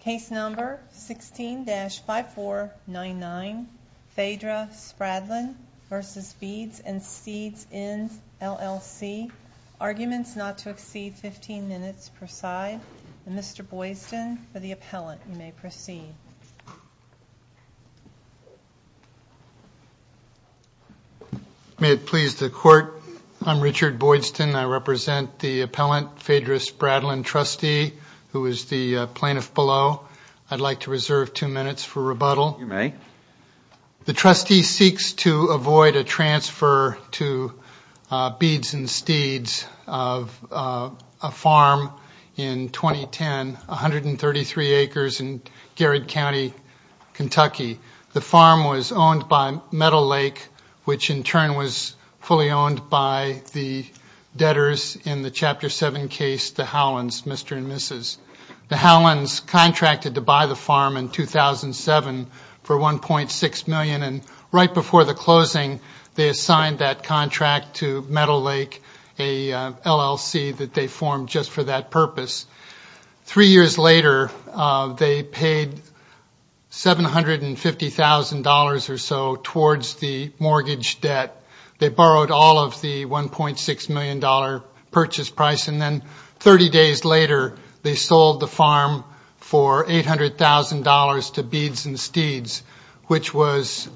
Case number 16-5499, Phaedra Spradlin v. Beads and Seeds Inns LLC. Arguments not to exceed 15 minutes per side. Mr. Boydston, for the appellant, you may proceed. May it please the court, I'm Richard Boydston. I represent the appellant, Phaedra Spradlin, trustee, who is the plaintiff below. I'd like to reserve two minutes for rebuttal. You may. The trustee seeks to avoid a transfer to Beads and Steeds of a farm in 2010, 133 acres in Garrett County, Kentucky. The farm was owned by Metal Lake, which in turn was fully owned by the debtors in the Chapter 7 case, the Howlands, Mr. and Mrs. The Howlands contracted to buy the farm in 2007 for $1.6 million, and right before the closing, they assigned that contract to Metal Lake, an LLC that they formed just for that purpose. Three years later, they paid $750,000 or so towards the mortgage debt. They borrowed all of the $1.6 million purchase price, and then 30 days later, they sold the farm for $800,000 to Beads and Steeds, which was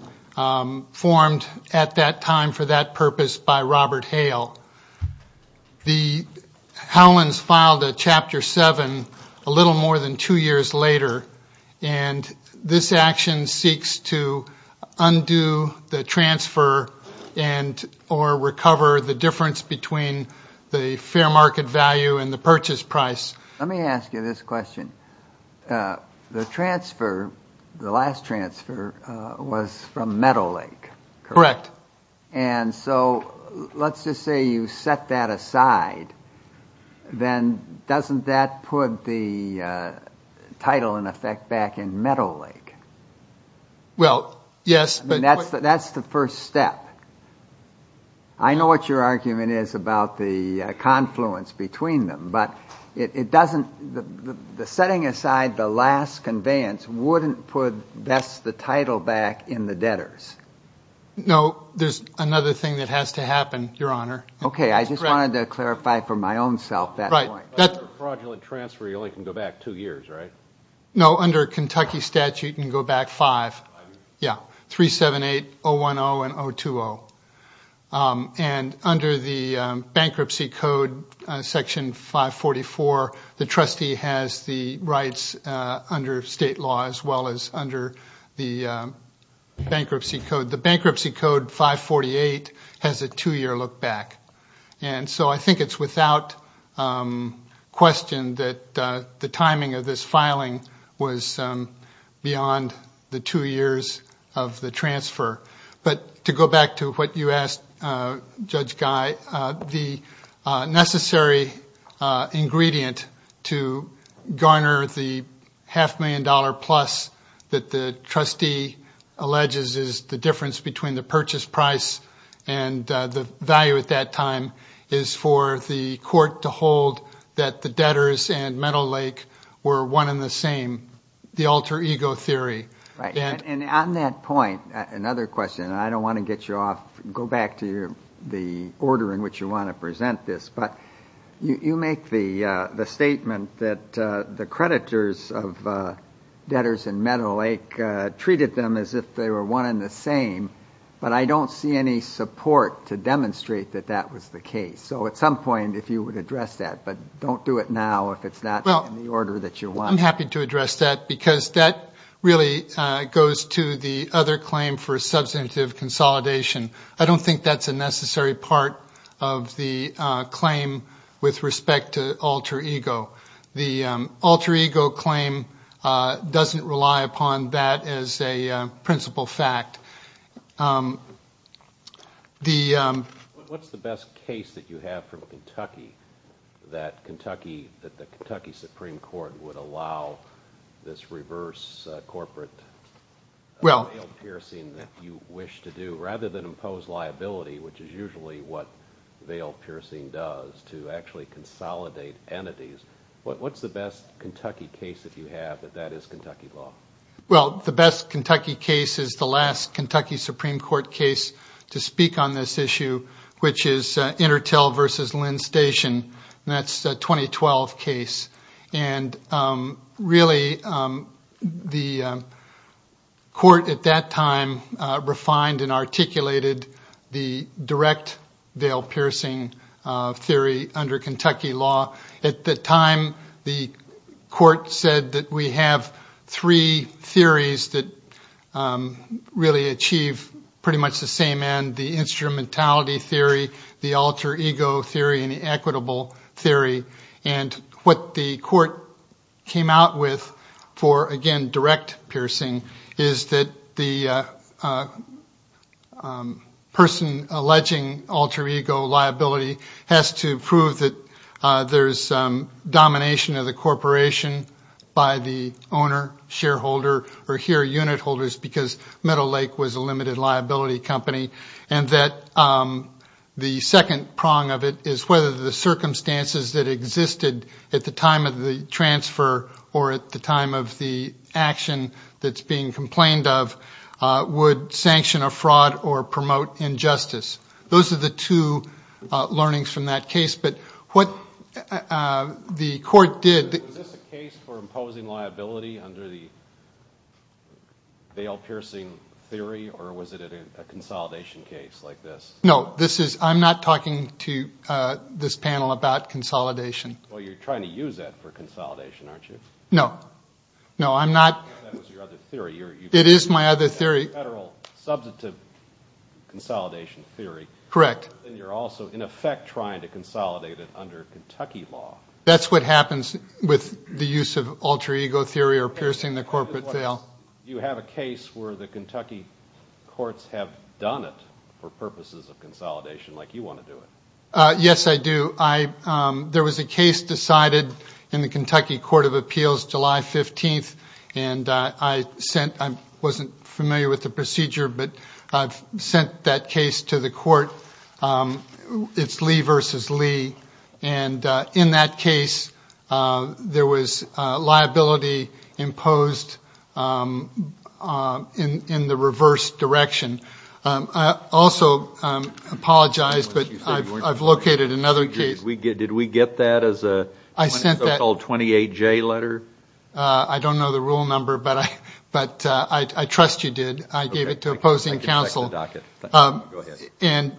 formed at that time for that purpose by Robert Hale. The Howlands filed a Chapter 7 a little more than two years later, and this action seeks to undo the transfer and or recover the difference between the fair market value and the purchase price. Let me ask you this question. The transfer, the last transfer, was from Metal Lake, correct? Correct. And so let's just say you set that aside, then doesn't that put the title, in effect, back in Metal Lake? Well, yes. And that's the first step. I know what your argument is about the confluence between them, but the setting aside the last conveyance wouldn't put best the title back in the debtors. No, there's another thing that has to happen, Your Honor. Okay, I just wanted to clarify for my own self that point. Right, that's a fraudulent transfer. You only can go back two years, right? No, under Kentucky statute, you can go back five. Yeah, 378, 010, and 020. And under the bankruptcy code, section 544, the trustee has the rights under state law as well as under the bankruptcy code. The bankruptcy code 548 has a two-year look back. And so I think it's without question that the timing of this filing was beyond the two years of the transfer. But to go back to what you asked, Judge Guy, the necessary ingredient to garner the half million dollar plus that the trustee alleges is the difference between the purchase price and the value at that time is for the court to hold that the debtors and Metal Lake were one and the same, the alter ego theory. Right, and on that point, another question, and I don't want to get you off, go back to the order in which you want to present this, but you make the statement that the creditors of debtors and Metal Lake treated them as if they were one and the same, but I don't see any support to demonstrate that that was the case. So at some point, if you would address that, but don't do it now if it's not in the order that you want. I'm happy to address that because that really goes to the other claim for substantive consolidation. I don't think that's a necessary part of the claim with respect to alter ego. The alter ego claim doesn't rely upon that as a principle fact. What's the best case that you have from Kentucky that the Kentucky Supreme Court would allow this reverse corporate veil piercing that you wish to do, rather than impose liability, which is usually what veil piercing does, to actually consolidate entities? What's the best Kentucky case that you have that that is Kentucky law? Well, the best Kentucky case is the last Kentucky Supreme Court case to speak on this issue, which is Intertel v. Lynn Station, and that's a 2012 case, and really, the court at that time refined and articulated the direct veil piercing theory under Kentucky law. At the time, the court said that we have three theories that really achieve pretty much the same end, the instrumentality theory, the alter ego theory, and the equitable theory. What the court came out with for, again, direct piercing is that the person alleging alter ego liability has to prove that there's domination of the corporation by the owner, shareholder, or here, unit holders, because Metal Lake was a limited liability company. The second prong of it is whether the circumstances that existed at the time of the transfer or at the time of the action that's being complained of would sanction a fraud or promote injustice. Those are the two learnings from that case. Was this a case for imposing liability under the veil piercing theory, or was it a consolidation case like this? No. I'm not talking to this panel about consolidation. Well, you're trying to use that for consolidation, aren't you? No. No, I'm not. That was your other theory. It is my other theory. Federal substantive consolidation theory. Correct. And you're also, in effect, trying to consolidate it under Kentucky law. That's what happens with the use of alter ego theory or piercing the corporate veil. Do you have a case where the Kentucky courts have done it for purposes of consolidation like you want to do it? Yes, I do. There was a case decided in the Kentucky Court of Appeals July 15th, and I wasn't familiar with the procedure, but I've sent that case to the court. It's Lee versus Lee. And in that case, there was liability imposed in the reverse direction. I also apologize, but I've located another case. Did we get that as a so-called 28-J letter? I don't know the rule number, but I trust you did. I gave it to opposing counsel. And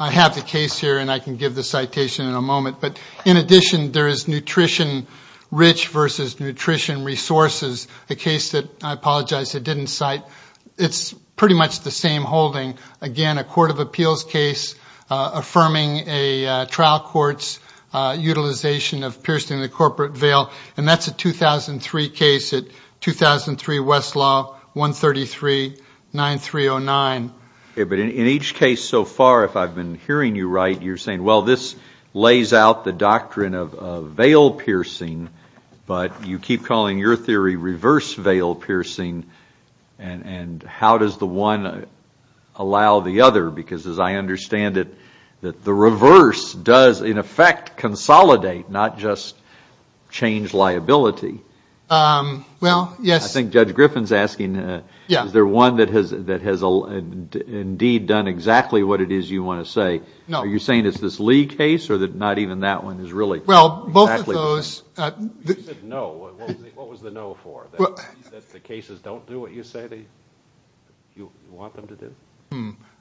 I have the case here, and I can give the citation in a moment. But in addition, there is nutrition rich versus nutrition resources, a case that I apologize I didn't cite. It's pretty much the same holding. Again, a court of appeals case affirming a trial court's utilization of piercing the corporate veil. And that's a 2003 case at 2003 Westlaw, 133-9309. But in each case so far, if I've been hearing you right, you're saying, well, this lays out the doctrine of veil piercing, but you keep calling your theory reverse veil piercing, and how does the one allow the other? Because as I understand it, the reverse does, in effect, consolidate, not just change liability. Well, yes. I think Judge Griffin's asking, is there one that has indeed done exactly what it is you want to say? No. Are you saying it's this Lee case, or not even that one is really exactly the same? Well, both of those. You said no. What was the no for? That the cases don't do what you say you want them to do?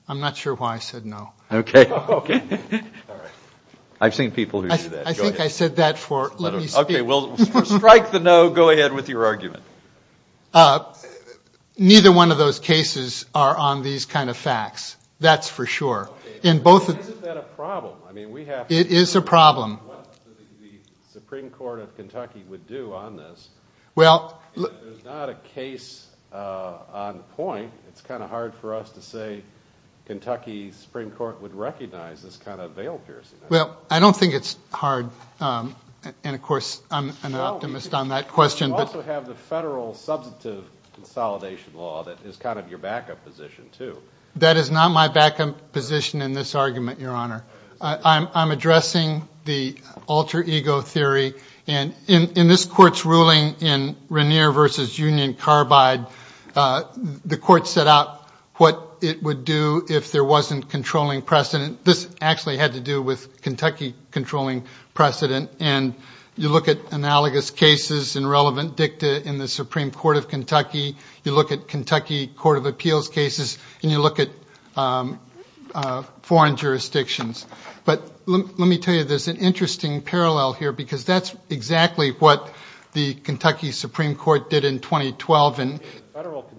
I'm not sure why I said no. Okay. All right. I've seen people who do that. I think I said that for, let me speak. Okay. Well, to strike the no, go ahead with your argument. Neither one of those cases are on these kind of facts. That's for sure. Isn't that a problem? I mean, we have to figure out what the Supreme Court of Kentucky would do on this. There's not a case on point. It's kind of hard for us to say Kentucky Supreme Court would recognize this kind of veil piercing. Well, I don't think it's hard. And, of course, I'm an optimist on that question. But you also have the federal substantive consolidation law that is kind of your backup position, too. That is not my backup position in this argument, Your Honor. I'm addressing the alter ego theory. And in this Court's ruling in Rainier v. Union Carbide, the Court set out what it would do if there wasn't controlling precedent. This actually had to do with Kentucky controlling precedent. And you look at analogous cases and relevant dicta in the Supreme Court of Kentucky. You look at Kentucky Court of Appeals cases. And you look at foreign jurisdictions. But let me tell you, there's an interesting parallel here because that's exactly what the Kentucky Supreme Court did in 2012. The federal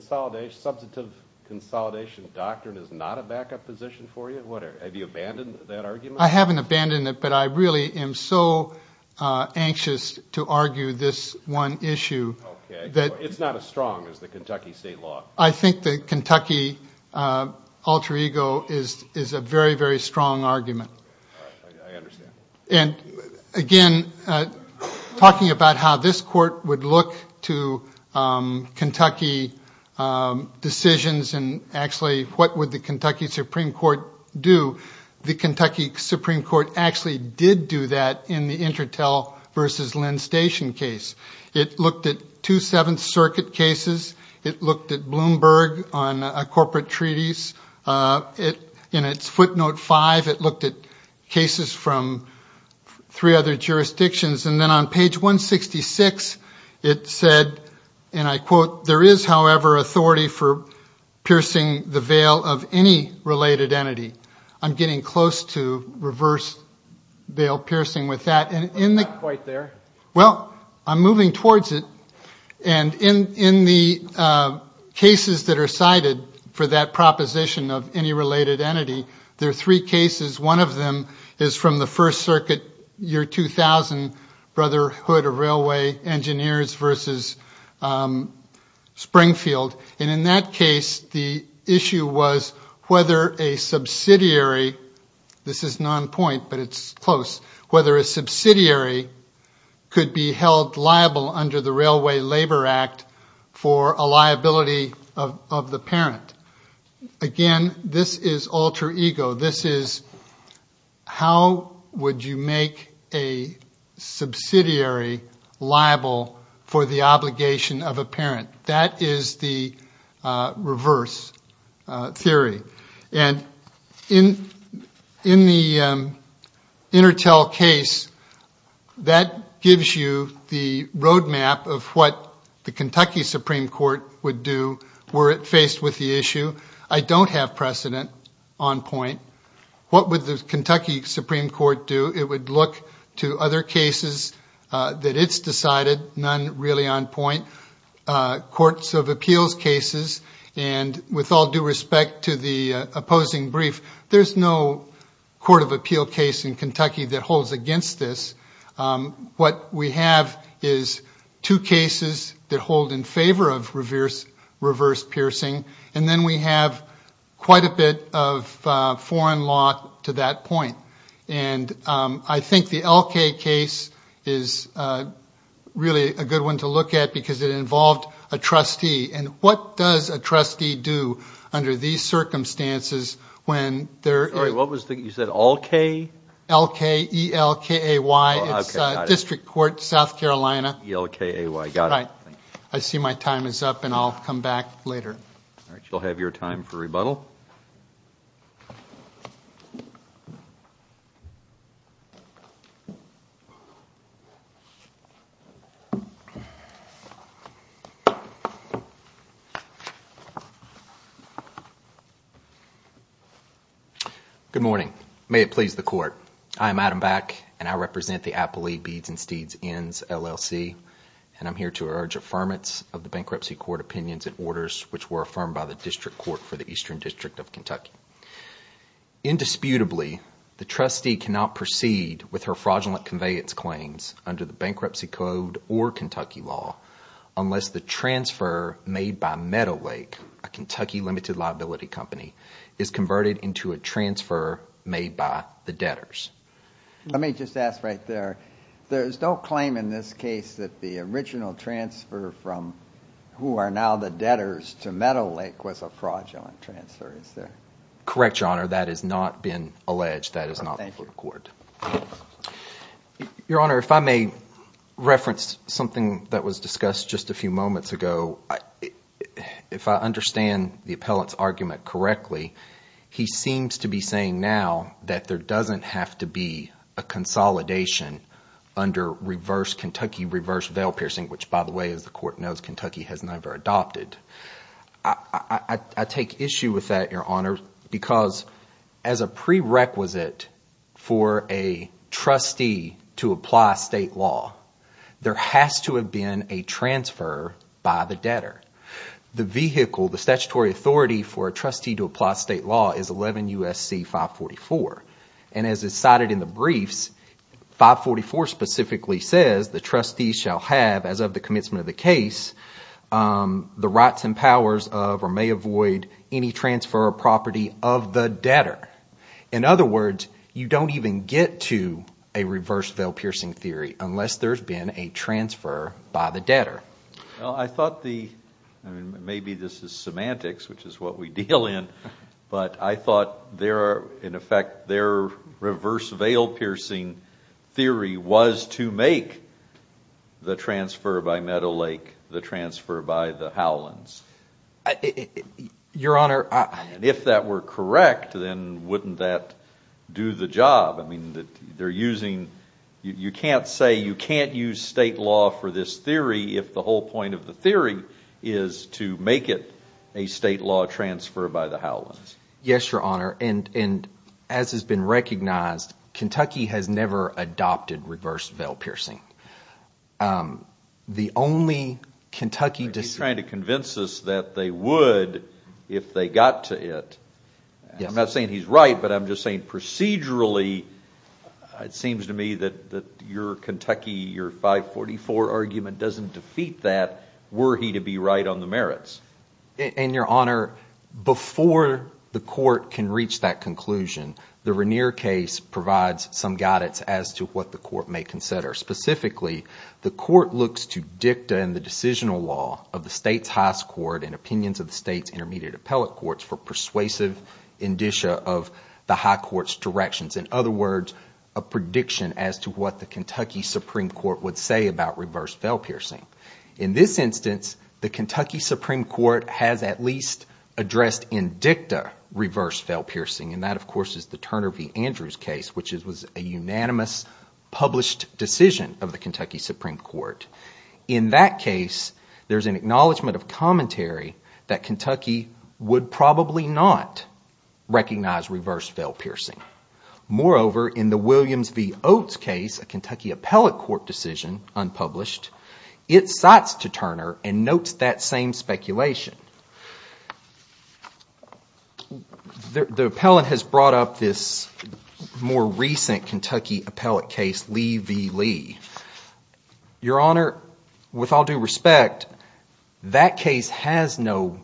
substantive consolidation doctrine is not a backup position for you? Have you abandoned that argument? I haven't abandoned it, but I really am so anxious to argue this one issue. Okay. It's not as strong as the Kentucky state law. I think the Kentucky alter ego is a very, very strong argument. I understand. And, again, talking about how this Court would look to Kentucky decisions and actually what would the Kentucky Supreme Court do, the Kentucky Supreme Court actually did do that in the Intertel v. Lynn Station case. It looked at two Seventh Circuit cases. It looked at Bloomberg on corporate treaties. In its footnote five, it looked at cases from three other jurisdictions. And then on page 166, it said, and I quote, there is, however, authority for piercing the veil of any related entity. I'm getting close to reverse veil piercing with that. Not quite there. Well, I'm moving towards it. And in the cases that are cited for that proposition of any related entity, there are three cases. One of them is from the First Circuit, year 2000, Brotherhood of Railway Engineers v. Springfield. And in that case, the issue was whether a subsidiary, this is non-point, but it's close, whether a subsidiary could be held liable under the Railway Labor Act for a liability of the parent. Again, this is alter ego. This is how would you make a subsidiary liable for the obligation of a parent. That is the reverse theory. And in the Intertel case, that gives you the roadmap of what the Kentucky Supreme Court would do were it faced with the issue. I don't have precedent on point. What would the Kentucky Supreme Court do? It would look to other cases that it's decided, none really on point. Courts of appeals cases, and with all due respect to the opposing brief, there's no court of appeal case in Kentucky that holds against this. What we have is two cases that hold in favor of reverse piercing, and then we have quite a bit of foreign law to that point. And I think the Elkay case is really a good one to look at because it involved a trustee. And what does a trustee do under these circumstances when they're – Sorry, what was the – you said Elkay? Elkay, E-L-K-A-Y. Oh, okay, got it. It's District Court, South Carolina. E-L-K-A-Y, got it. Right. I see my time is up, and I'll come back later. All right, you'll have your time for rebuttal. Thank you. Good morning. May it please the court. I am Adam Back, and I represent the Appellee Beads and Steeds Ends, LLC, and I'm here to urge affirmance of the bankruptcy court opinions and orders which were affirmed by the District Court for the Eastern District of Kentucky. Indisputably, the trustee cannot proceed with her fraudulent conveyance claims under the Bankruptcy Code or Kentucky law unless the transfer made by Meadowlake, a Kentucky limited liability company, is converted into a transfer made by the debtors. Let me just ask right there, there's no claim in this case that the original transfer from who are now the debtors to Meadowlake was a fraudulent transfer, is there? Correct, Your Honor. That has not been alleged. That is not before the court. Thank you. Your Honor, if I may reference something that was discussed just a few moments ago. If I understand the appellant's argument correctly, he seems to be saying now that there doesn't have to be a consolidation under reverse Kentucky reverse veil piercing, which by the way, as the court knows, Kentucky has never adopted. I take issue with that, Your Honor, because as a prerequisite for a trustee to apply state law, there has to have been a transfer by the debtor. The vehicle, the statutory authority for a trustee to apply state law is 11 U.S.C. 544. And as it's cited in the briefs, 544 specifically says the trustee shall have, as of the commencement of the case, the rights and powers of, or may avoid any transfer of property of the debtor. In other words, you don't even get to a reverse veil piercing theory unless there's been a transfer by the debtor. Well, I thought the, maybe this is semantics, which is what we deal in, but I thought there are, in effect, their reverse veil piercing theory was to make the transfer by Meadow Lake the transfer by the Howlands. Your Honor, I... If that were correct, then wouldn't that do the job? I mean, they're using, you can't say you can't use state law for this theory if the whole point of the theory is to make it a state law transfer by the Howlands. Yes, Your Honor, and as has been recognized, Kentucky has never adopted reverse veil piercing. The only Kentucky decision... They're trying to convince us that they would if they got to it. I'm not saying he's right, but I'm just saying procedurally, it seems to me that your Kentucky, your 544 argument doesn't defeat that. Were he to be right on the merits? And, Your Honor, before the court can reach that conclusion, the Regnier case provides some guidance as to what the court may consider. Specifically, the court looks to dicta and the decisional law of the state's highest court and opinions of the state's intermediate appellate courts for persuasive indicia of the high court's directions. In other words, a prediction as to what the Kentucky Supreme Court would say about reverse veil piercing. In this instance, the Kentucky Supreme Court has at least addressed in dicta reverse veil piercing, and that, of course, is the Turner v. Andrews case, which was a unanimous published decision of the Kentucky Supreme Court. that Kentucky would probably not recognize reverse veil piercing. Moreover, in the Williams v. Oates case, a Kentucky appellate court decision, unpublished, it cites to Turner and notes that same speculation. The appellant has brought up this more recent Kentucky appellate case, Lee v. Lee. Your Honor, with all due respect, that case has no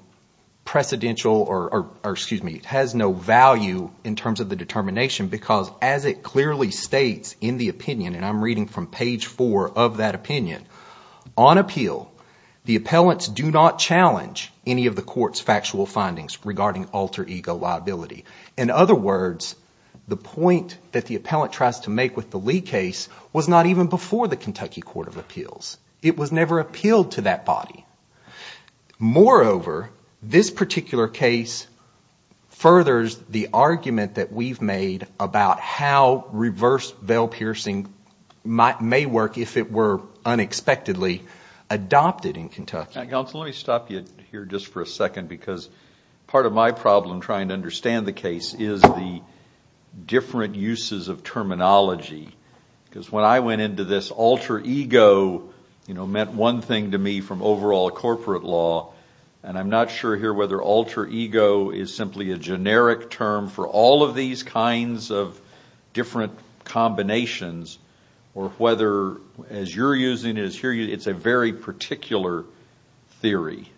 precedential – or excuse me. It has no value in terms of the determination because as it clearly states in the opinion, and I'm reading from page four of that opinion, on appeal the appellants do not challenge any of the court's factual findings regarding alter ego liability. In other words, the point that the appellant tries to make with the Lee case was not even before the Kentucky Court of Appeals. It was never appealed to that body. Moreover, this particular case furthers the argument that we've made about how reverse veil piercing may work if it were unexpectedly adopted in Kentucky. Counsel, let me stop you here just for a second because part of my problem trying to understand the case is the different uses of terminology. Because when I went into this, alter ego meant one thing to me from overall corporate law, and I'm not sure here whether alter ego is simply a generic term for all of these kinds of different combinations or whether as you're using it, it's a very particular theory.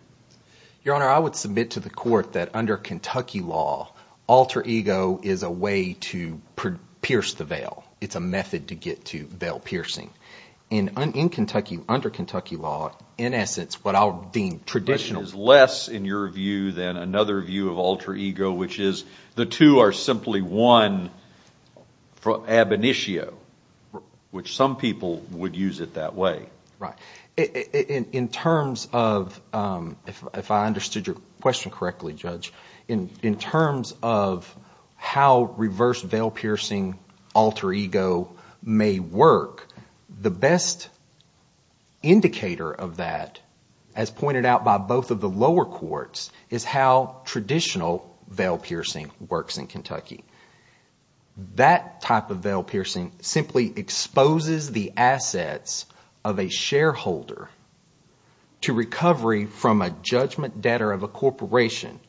Your Honor, I would submit to the court that under Kentucky law, alter ego is a way to pierce the veil. It's a method to get to veil piercing. And in Kentucky, under Kentucky law, in essence, what I would deem traditional… alter ego, which is the two are simply one, ab initio, which some people would use it that way. Right. In terms of, if I understood your question correctly, Judge, in terms of how reverse veil piercing alter ego may work, the best indicator of that, as pointed out by both of the lower courts, is how traditional veil piercing works in Kentucky. That type of veil piercing simply exposes the assets of a shareholder to recovery from a judgment debtor of a corporation.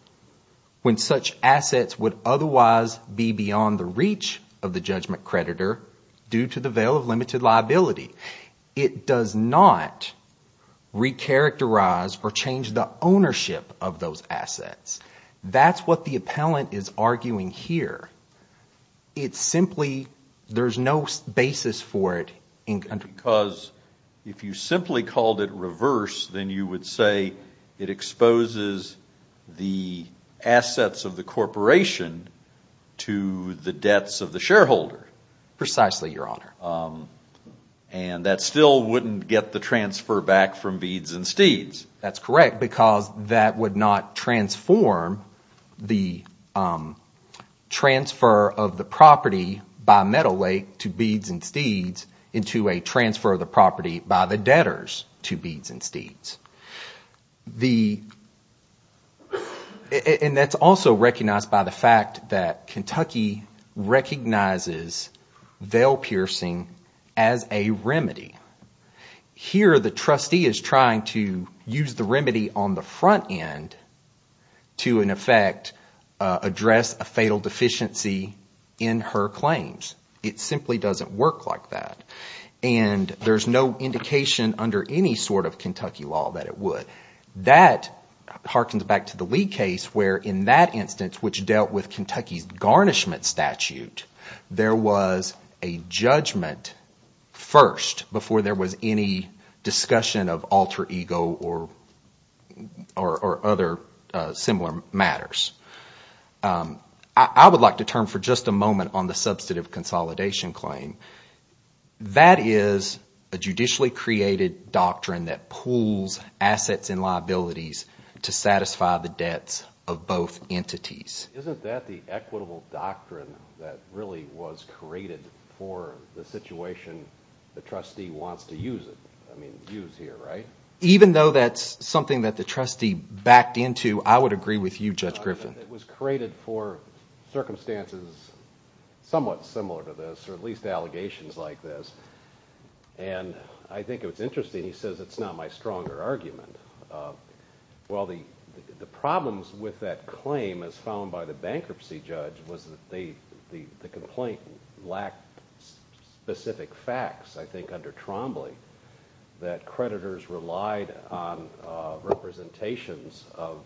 When such assets would otherwise be beyond the reach of the judgment creditor due to the veil of limited liability. It does not recharacterize or change the ownership of those assets. That's what the appellant is arguing here. It simply, there's no basis for it in Kentucky. Because if you simply called it reverse, then you would say it exposes the assets of the corporation to the debts of the shareholder. Precisely, Your Honor. And that still wouldn't get the transfer back from beads and steeds. That's correct because that would not transform the transfer of the property by Metal Lake to beads and steeds into a transfer of the property by the debtors to beads and steeds. And that's also recognized by the fact that Kentucky recognizes veil piercing as a remedy. Here the trustee is trying to use the remedy on the front end to, in effect, address a fatal deficiency in her claims. It simply doesn't work like that. And there's no indication under any sort of Kentucky law that it would. That harkens back to the Lee case where in that instance, which dealt with Kentucky's garnishment statute, there was a judgment first before there was any discussion of alter ego or other similar matters. I would like to turn for just a moment on the substantive consolidation claim. That is a judicially created doctrine that pools assets and liabilities to satisfy the debts of both entities. Isn't that the equitable doctrine that really was created for the situation the trustee wants to use it, I mean use here, right? Even though that's something that the trustee backed into, I would agree with you, Judge Griffin. It was created for circumstances somewhat similar to this, or at least allegations like this. And I think it was interesting, he says, it's not my stronger argument. Well, the problems with that claim, as found by the bankruptcy judge, was that the complaint lacked specific facts, I think, under Trombley. That creditors relied on representations of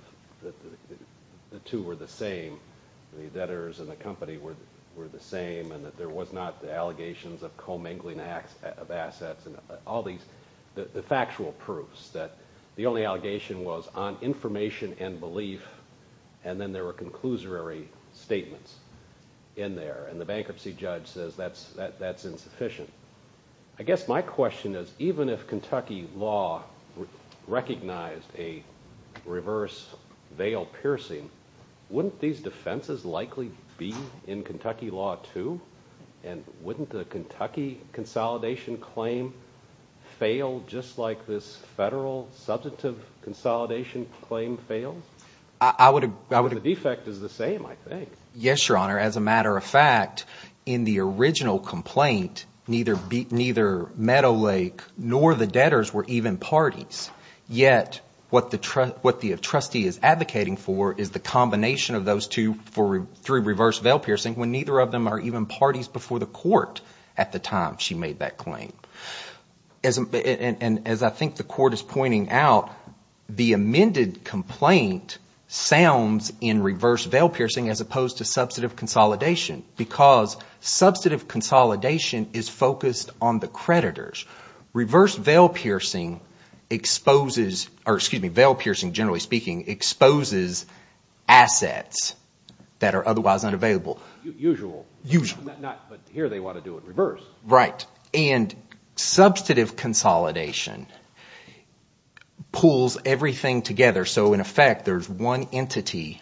the two were the same, the debtors and the company were the same, and that there was not allegations of co-mingling of assets. All these factual proofs that the only allegation was on information and belief, and then there were conclusory statements in there. And the bankruptcy judge says that's insufficient. I guess my question is, even if Kentucky law recognized a reverse veil piercing, wouldn't these defenses likely be in Kentucky law too? And wouldn't the Kentucky consolidation claim fail just like this federal substantive consolidation claim failed? The defect is the same, I think. Yes, Your Honor. As a matter of fact, in the original complaint, neither Meadow Lake nor the debtors were even parties. Yet what the trustee is advocating for is the combination of those two through reverse veil piercing when neither of them are even parties before the court at the time she made that claim. And as I think the court is pointing out, the amended complaint sounds in reverse veil piercing as opposed to substantive consolidation because substantive consolidation is focused on the creditors. Reverse veil piercing exposes – or excuse me, veil piercing, generally speaking, exposes assets that are otherwise unavailable. Usual. Usual. Not – but here they want to do it reverse. Right, and substantive consolidation pulls everything together. So in effect, there's one entity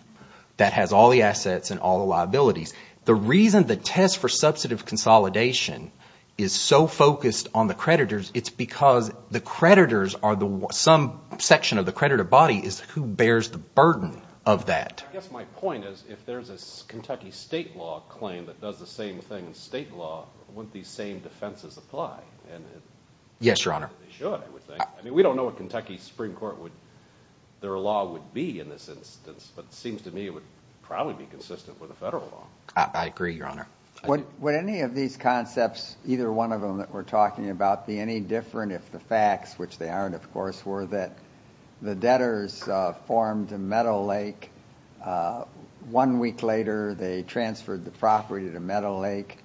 that has all the assets and all the liabilities. The reason the test for substantive consolidation is so focused on the creditors, it's because the creditors are the – some section of the creditor body is who bears the burden of that. I guess my point is if there's a Kentucky state law claim that does the same thing as state law, wouldn't these same defenses apply? Yes, Your Honor. I mean, we don't know what Kentucky's Supreme Court would – their law would be in this instance, but it seems to me it would probably be consistent with the federal law. I agree, Your Honor. Would any of these concepts, either one of them that we're talking about, be any different if the facts, which they aren't, of course, were that the debtors formed a metal lake. One week later, they transferred the property to Metal Lake.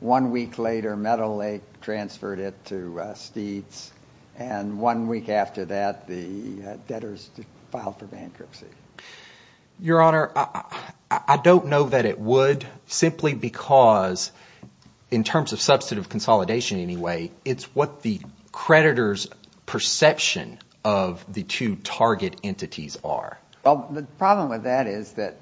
One week later, Metal Lake transferred it to Steeds. And one week after that, the debtors filed for bankruptcy. Your Honor, I don't know that it would simply because in terms of substantive consolidation anyway, it's what the creditors' perception of the two target entities are. Well, the problem with that is that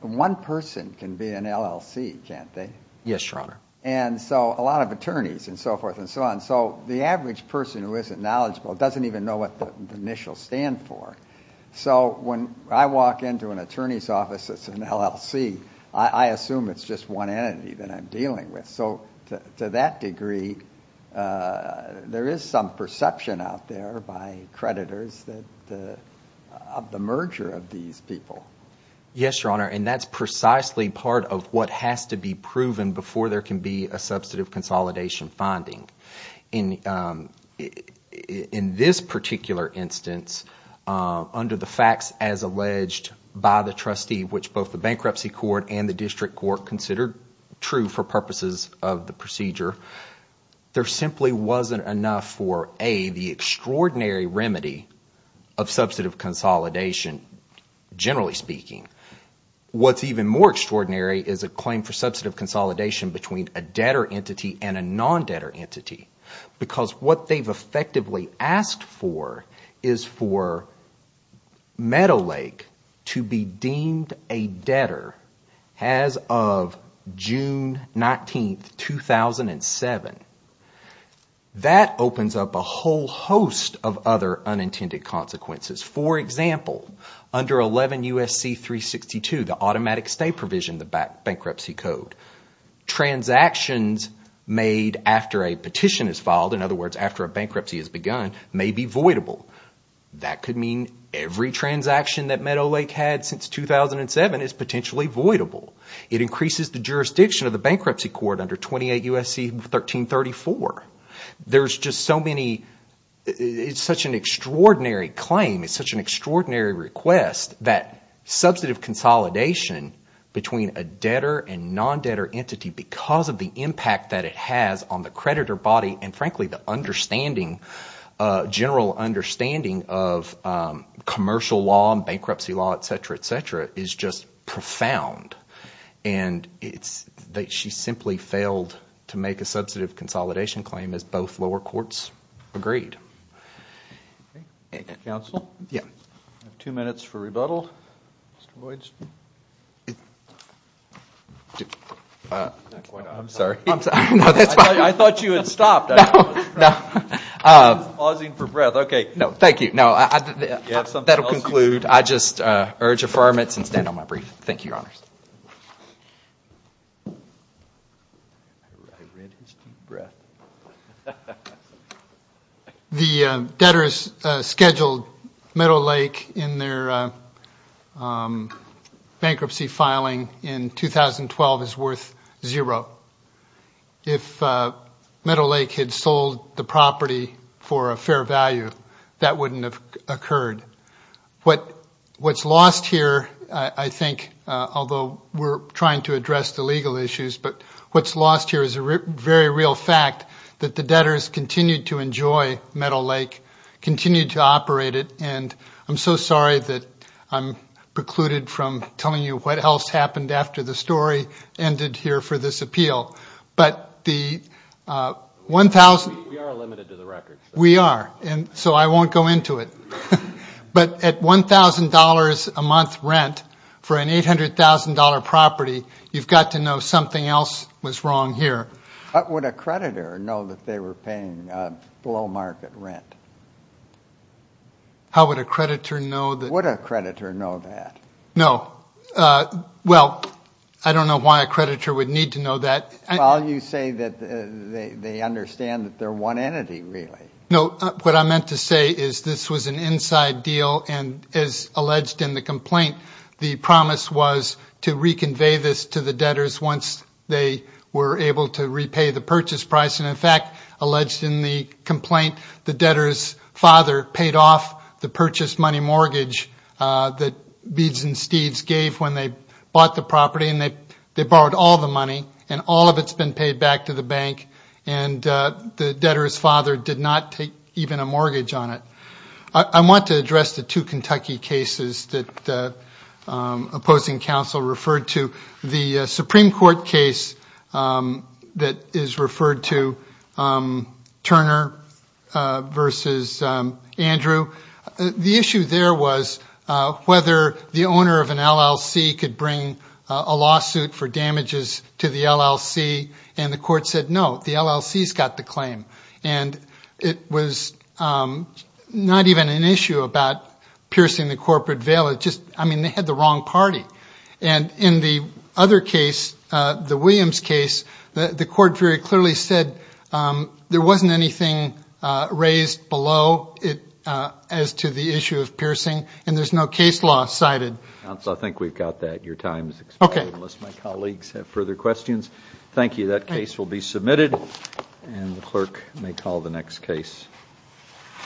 one person can be an LLC, can't they? Yes, Your Honor. And so a lot of attorneys and so forth and so on. So the average person who isn't knowledgeable doesn't even know what the initials stand for. So when I walk into an attorney's office that's an LLC, I assume it's just one entity that I'm dealing with. So to that degree, there is some perception out there by creditors that – of the merger of these people. Yes, Your Honor, and that's precisely part of what has to be proven before there can be a substantive consolidation finding. In this particular instance, under the facts as alleged by the trustee, which both the bankruptcy court and the district court considered true for purposes of the procedure, there simply wasn't enough for, A, the extraordinary remedy of substantive consolidation, generally speaking. What's even more extraordinary is a claim for substantive consolidation between a debtor entity and a non-debtor entity because what they've effectively asked for is for Meadowlake to be deemed a debtor as of June 19, 2007. That opens up a whole host of other unintended consequences. For example, under 11 U.S.C. 362, the automatic stay provision, the bankruptcy code, transactions made after a petition is filed, in other words, after a bankruptcy has begun, may be voidable. That could mean every transaction that Meadowlake had since 2007 is potentially voidable. It increases the jurisdiction of the bankruptcy court under 28 U.S.C. 1334. There's just so many – it's such an extraordinary claim. It's such an extraordinary request that substantive consolidation between a debtor and non-debtor entity because of the impact that it has on the creditor body and, frankly, the understanding, general understanding of commercial law and bankruptcy law, etc., etc., is just profound. And it's – she simply failed to make a substantive consolidation claim as both lower courts agreed. Thank you. Counsel? Yeah. I have two minutes for rebuttal. Mr. Lloyds? I'm sorry. I'm sorry. No, that's fine. I thought you had stopped. No, no. I was pausing for breath. Okay. No, thank you. No, I – Do you have something else? That will conclude. I just urge affirmance and stand on my brief. Thank you, Your Honors. I read his deep breath. The debtors scheduled Meadow Lake in their bankruptcy filing in 2012 as worth zero. If Meadow Lake had sold the property for a fair value, that wouldn't have occurred. What's lost here, I think, although we're trying to address the legal issues, but what's lost here is a very real fact that the debtors continued to enjoy Meadow Lake, continued to operate it, and I'm so sorry that I'm precluded from telling you what else happened after the story ended here for this appeal. But the – We are limited to the record. We are. And so I won't go into it. But at $1,000 a month rent for an $800,000 property, you've got to know something else was wrong here. What would a creditor know that they were paying below market rent? How would a creditor know that? Would a creditor know that? No. Well, I don't know why a creditor would need to know that. Well, you say that they understand that they're one entity, really. No. What I meant to say is this was an inside deal, and as alleged in the complaint, the promise was to reconvey this to the debtors once they were able to repay the purchase price. And, in fact, alleged in the complaint, the debtor's father paid off the purchase money mortgage that Beeds and Steves gave when they bought the property, and they borrowed all the money, and all of it's been paid back to the bank. And the debtor's father did not take even a mortgage on it. I want to address the two Kentucky cases that opposing counsel referred to. The Supreme Court case that is referred to, Turner v. Andrew, the issue there was whether the owner of an LLC could bring a lawsuit for damages to the LLC. And the court said, no, the LLC's got the claim. And it was not even an issue about piercing the corporate veil. I mean, they had the wrong party. And in the other case, the Williams case, the court very clearly said there wasn't anything raised below it as to the issue of piercing, and there's no case law cited. Counsel, I think we've got that. Okay. Unless my colleagues have further questions. Thank you. That case will be submitted, and the clerk may call the next case.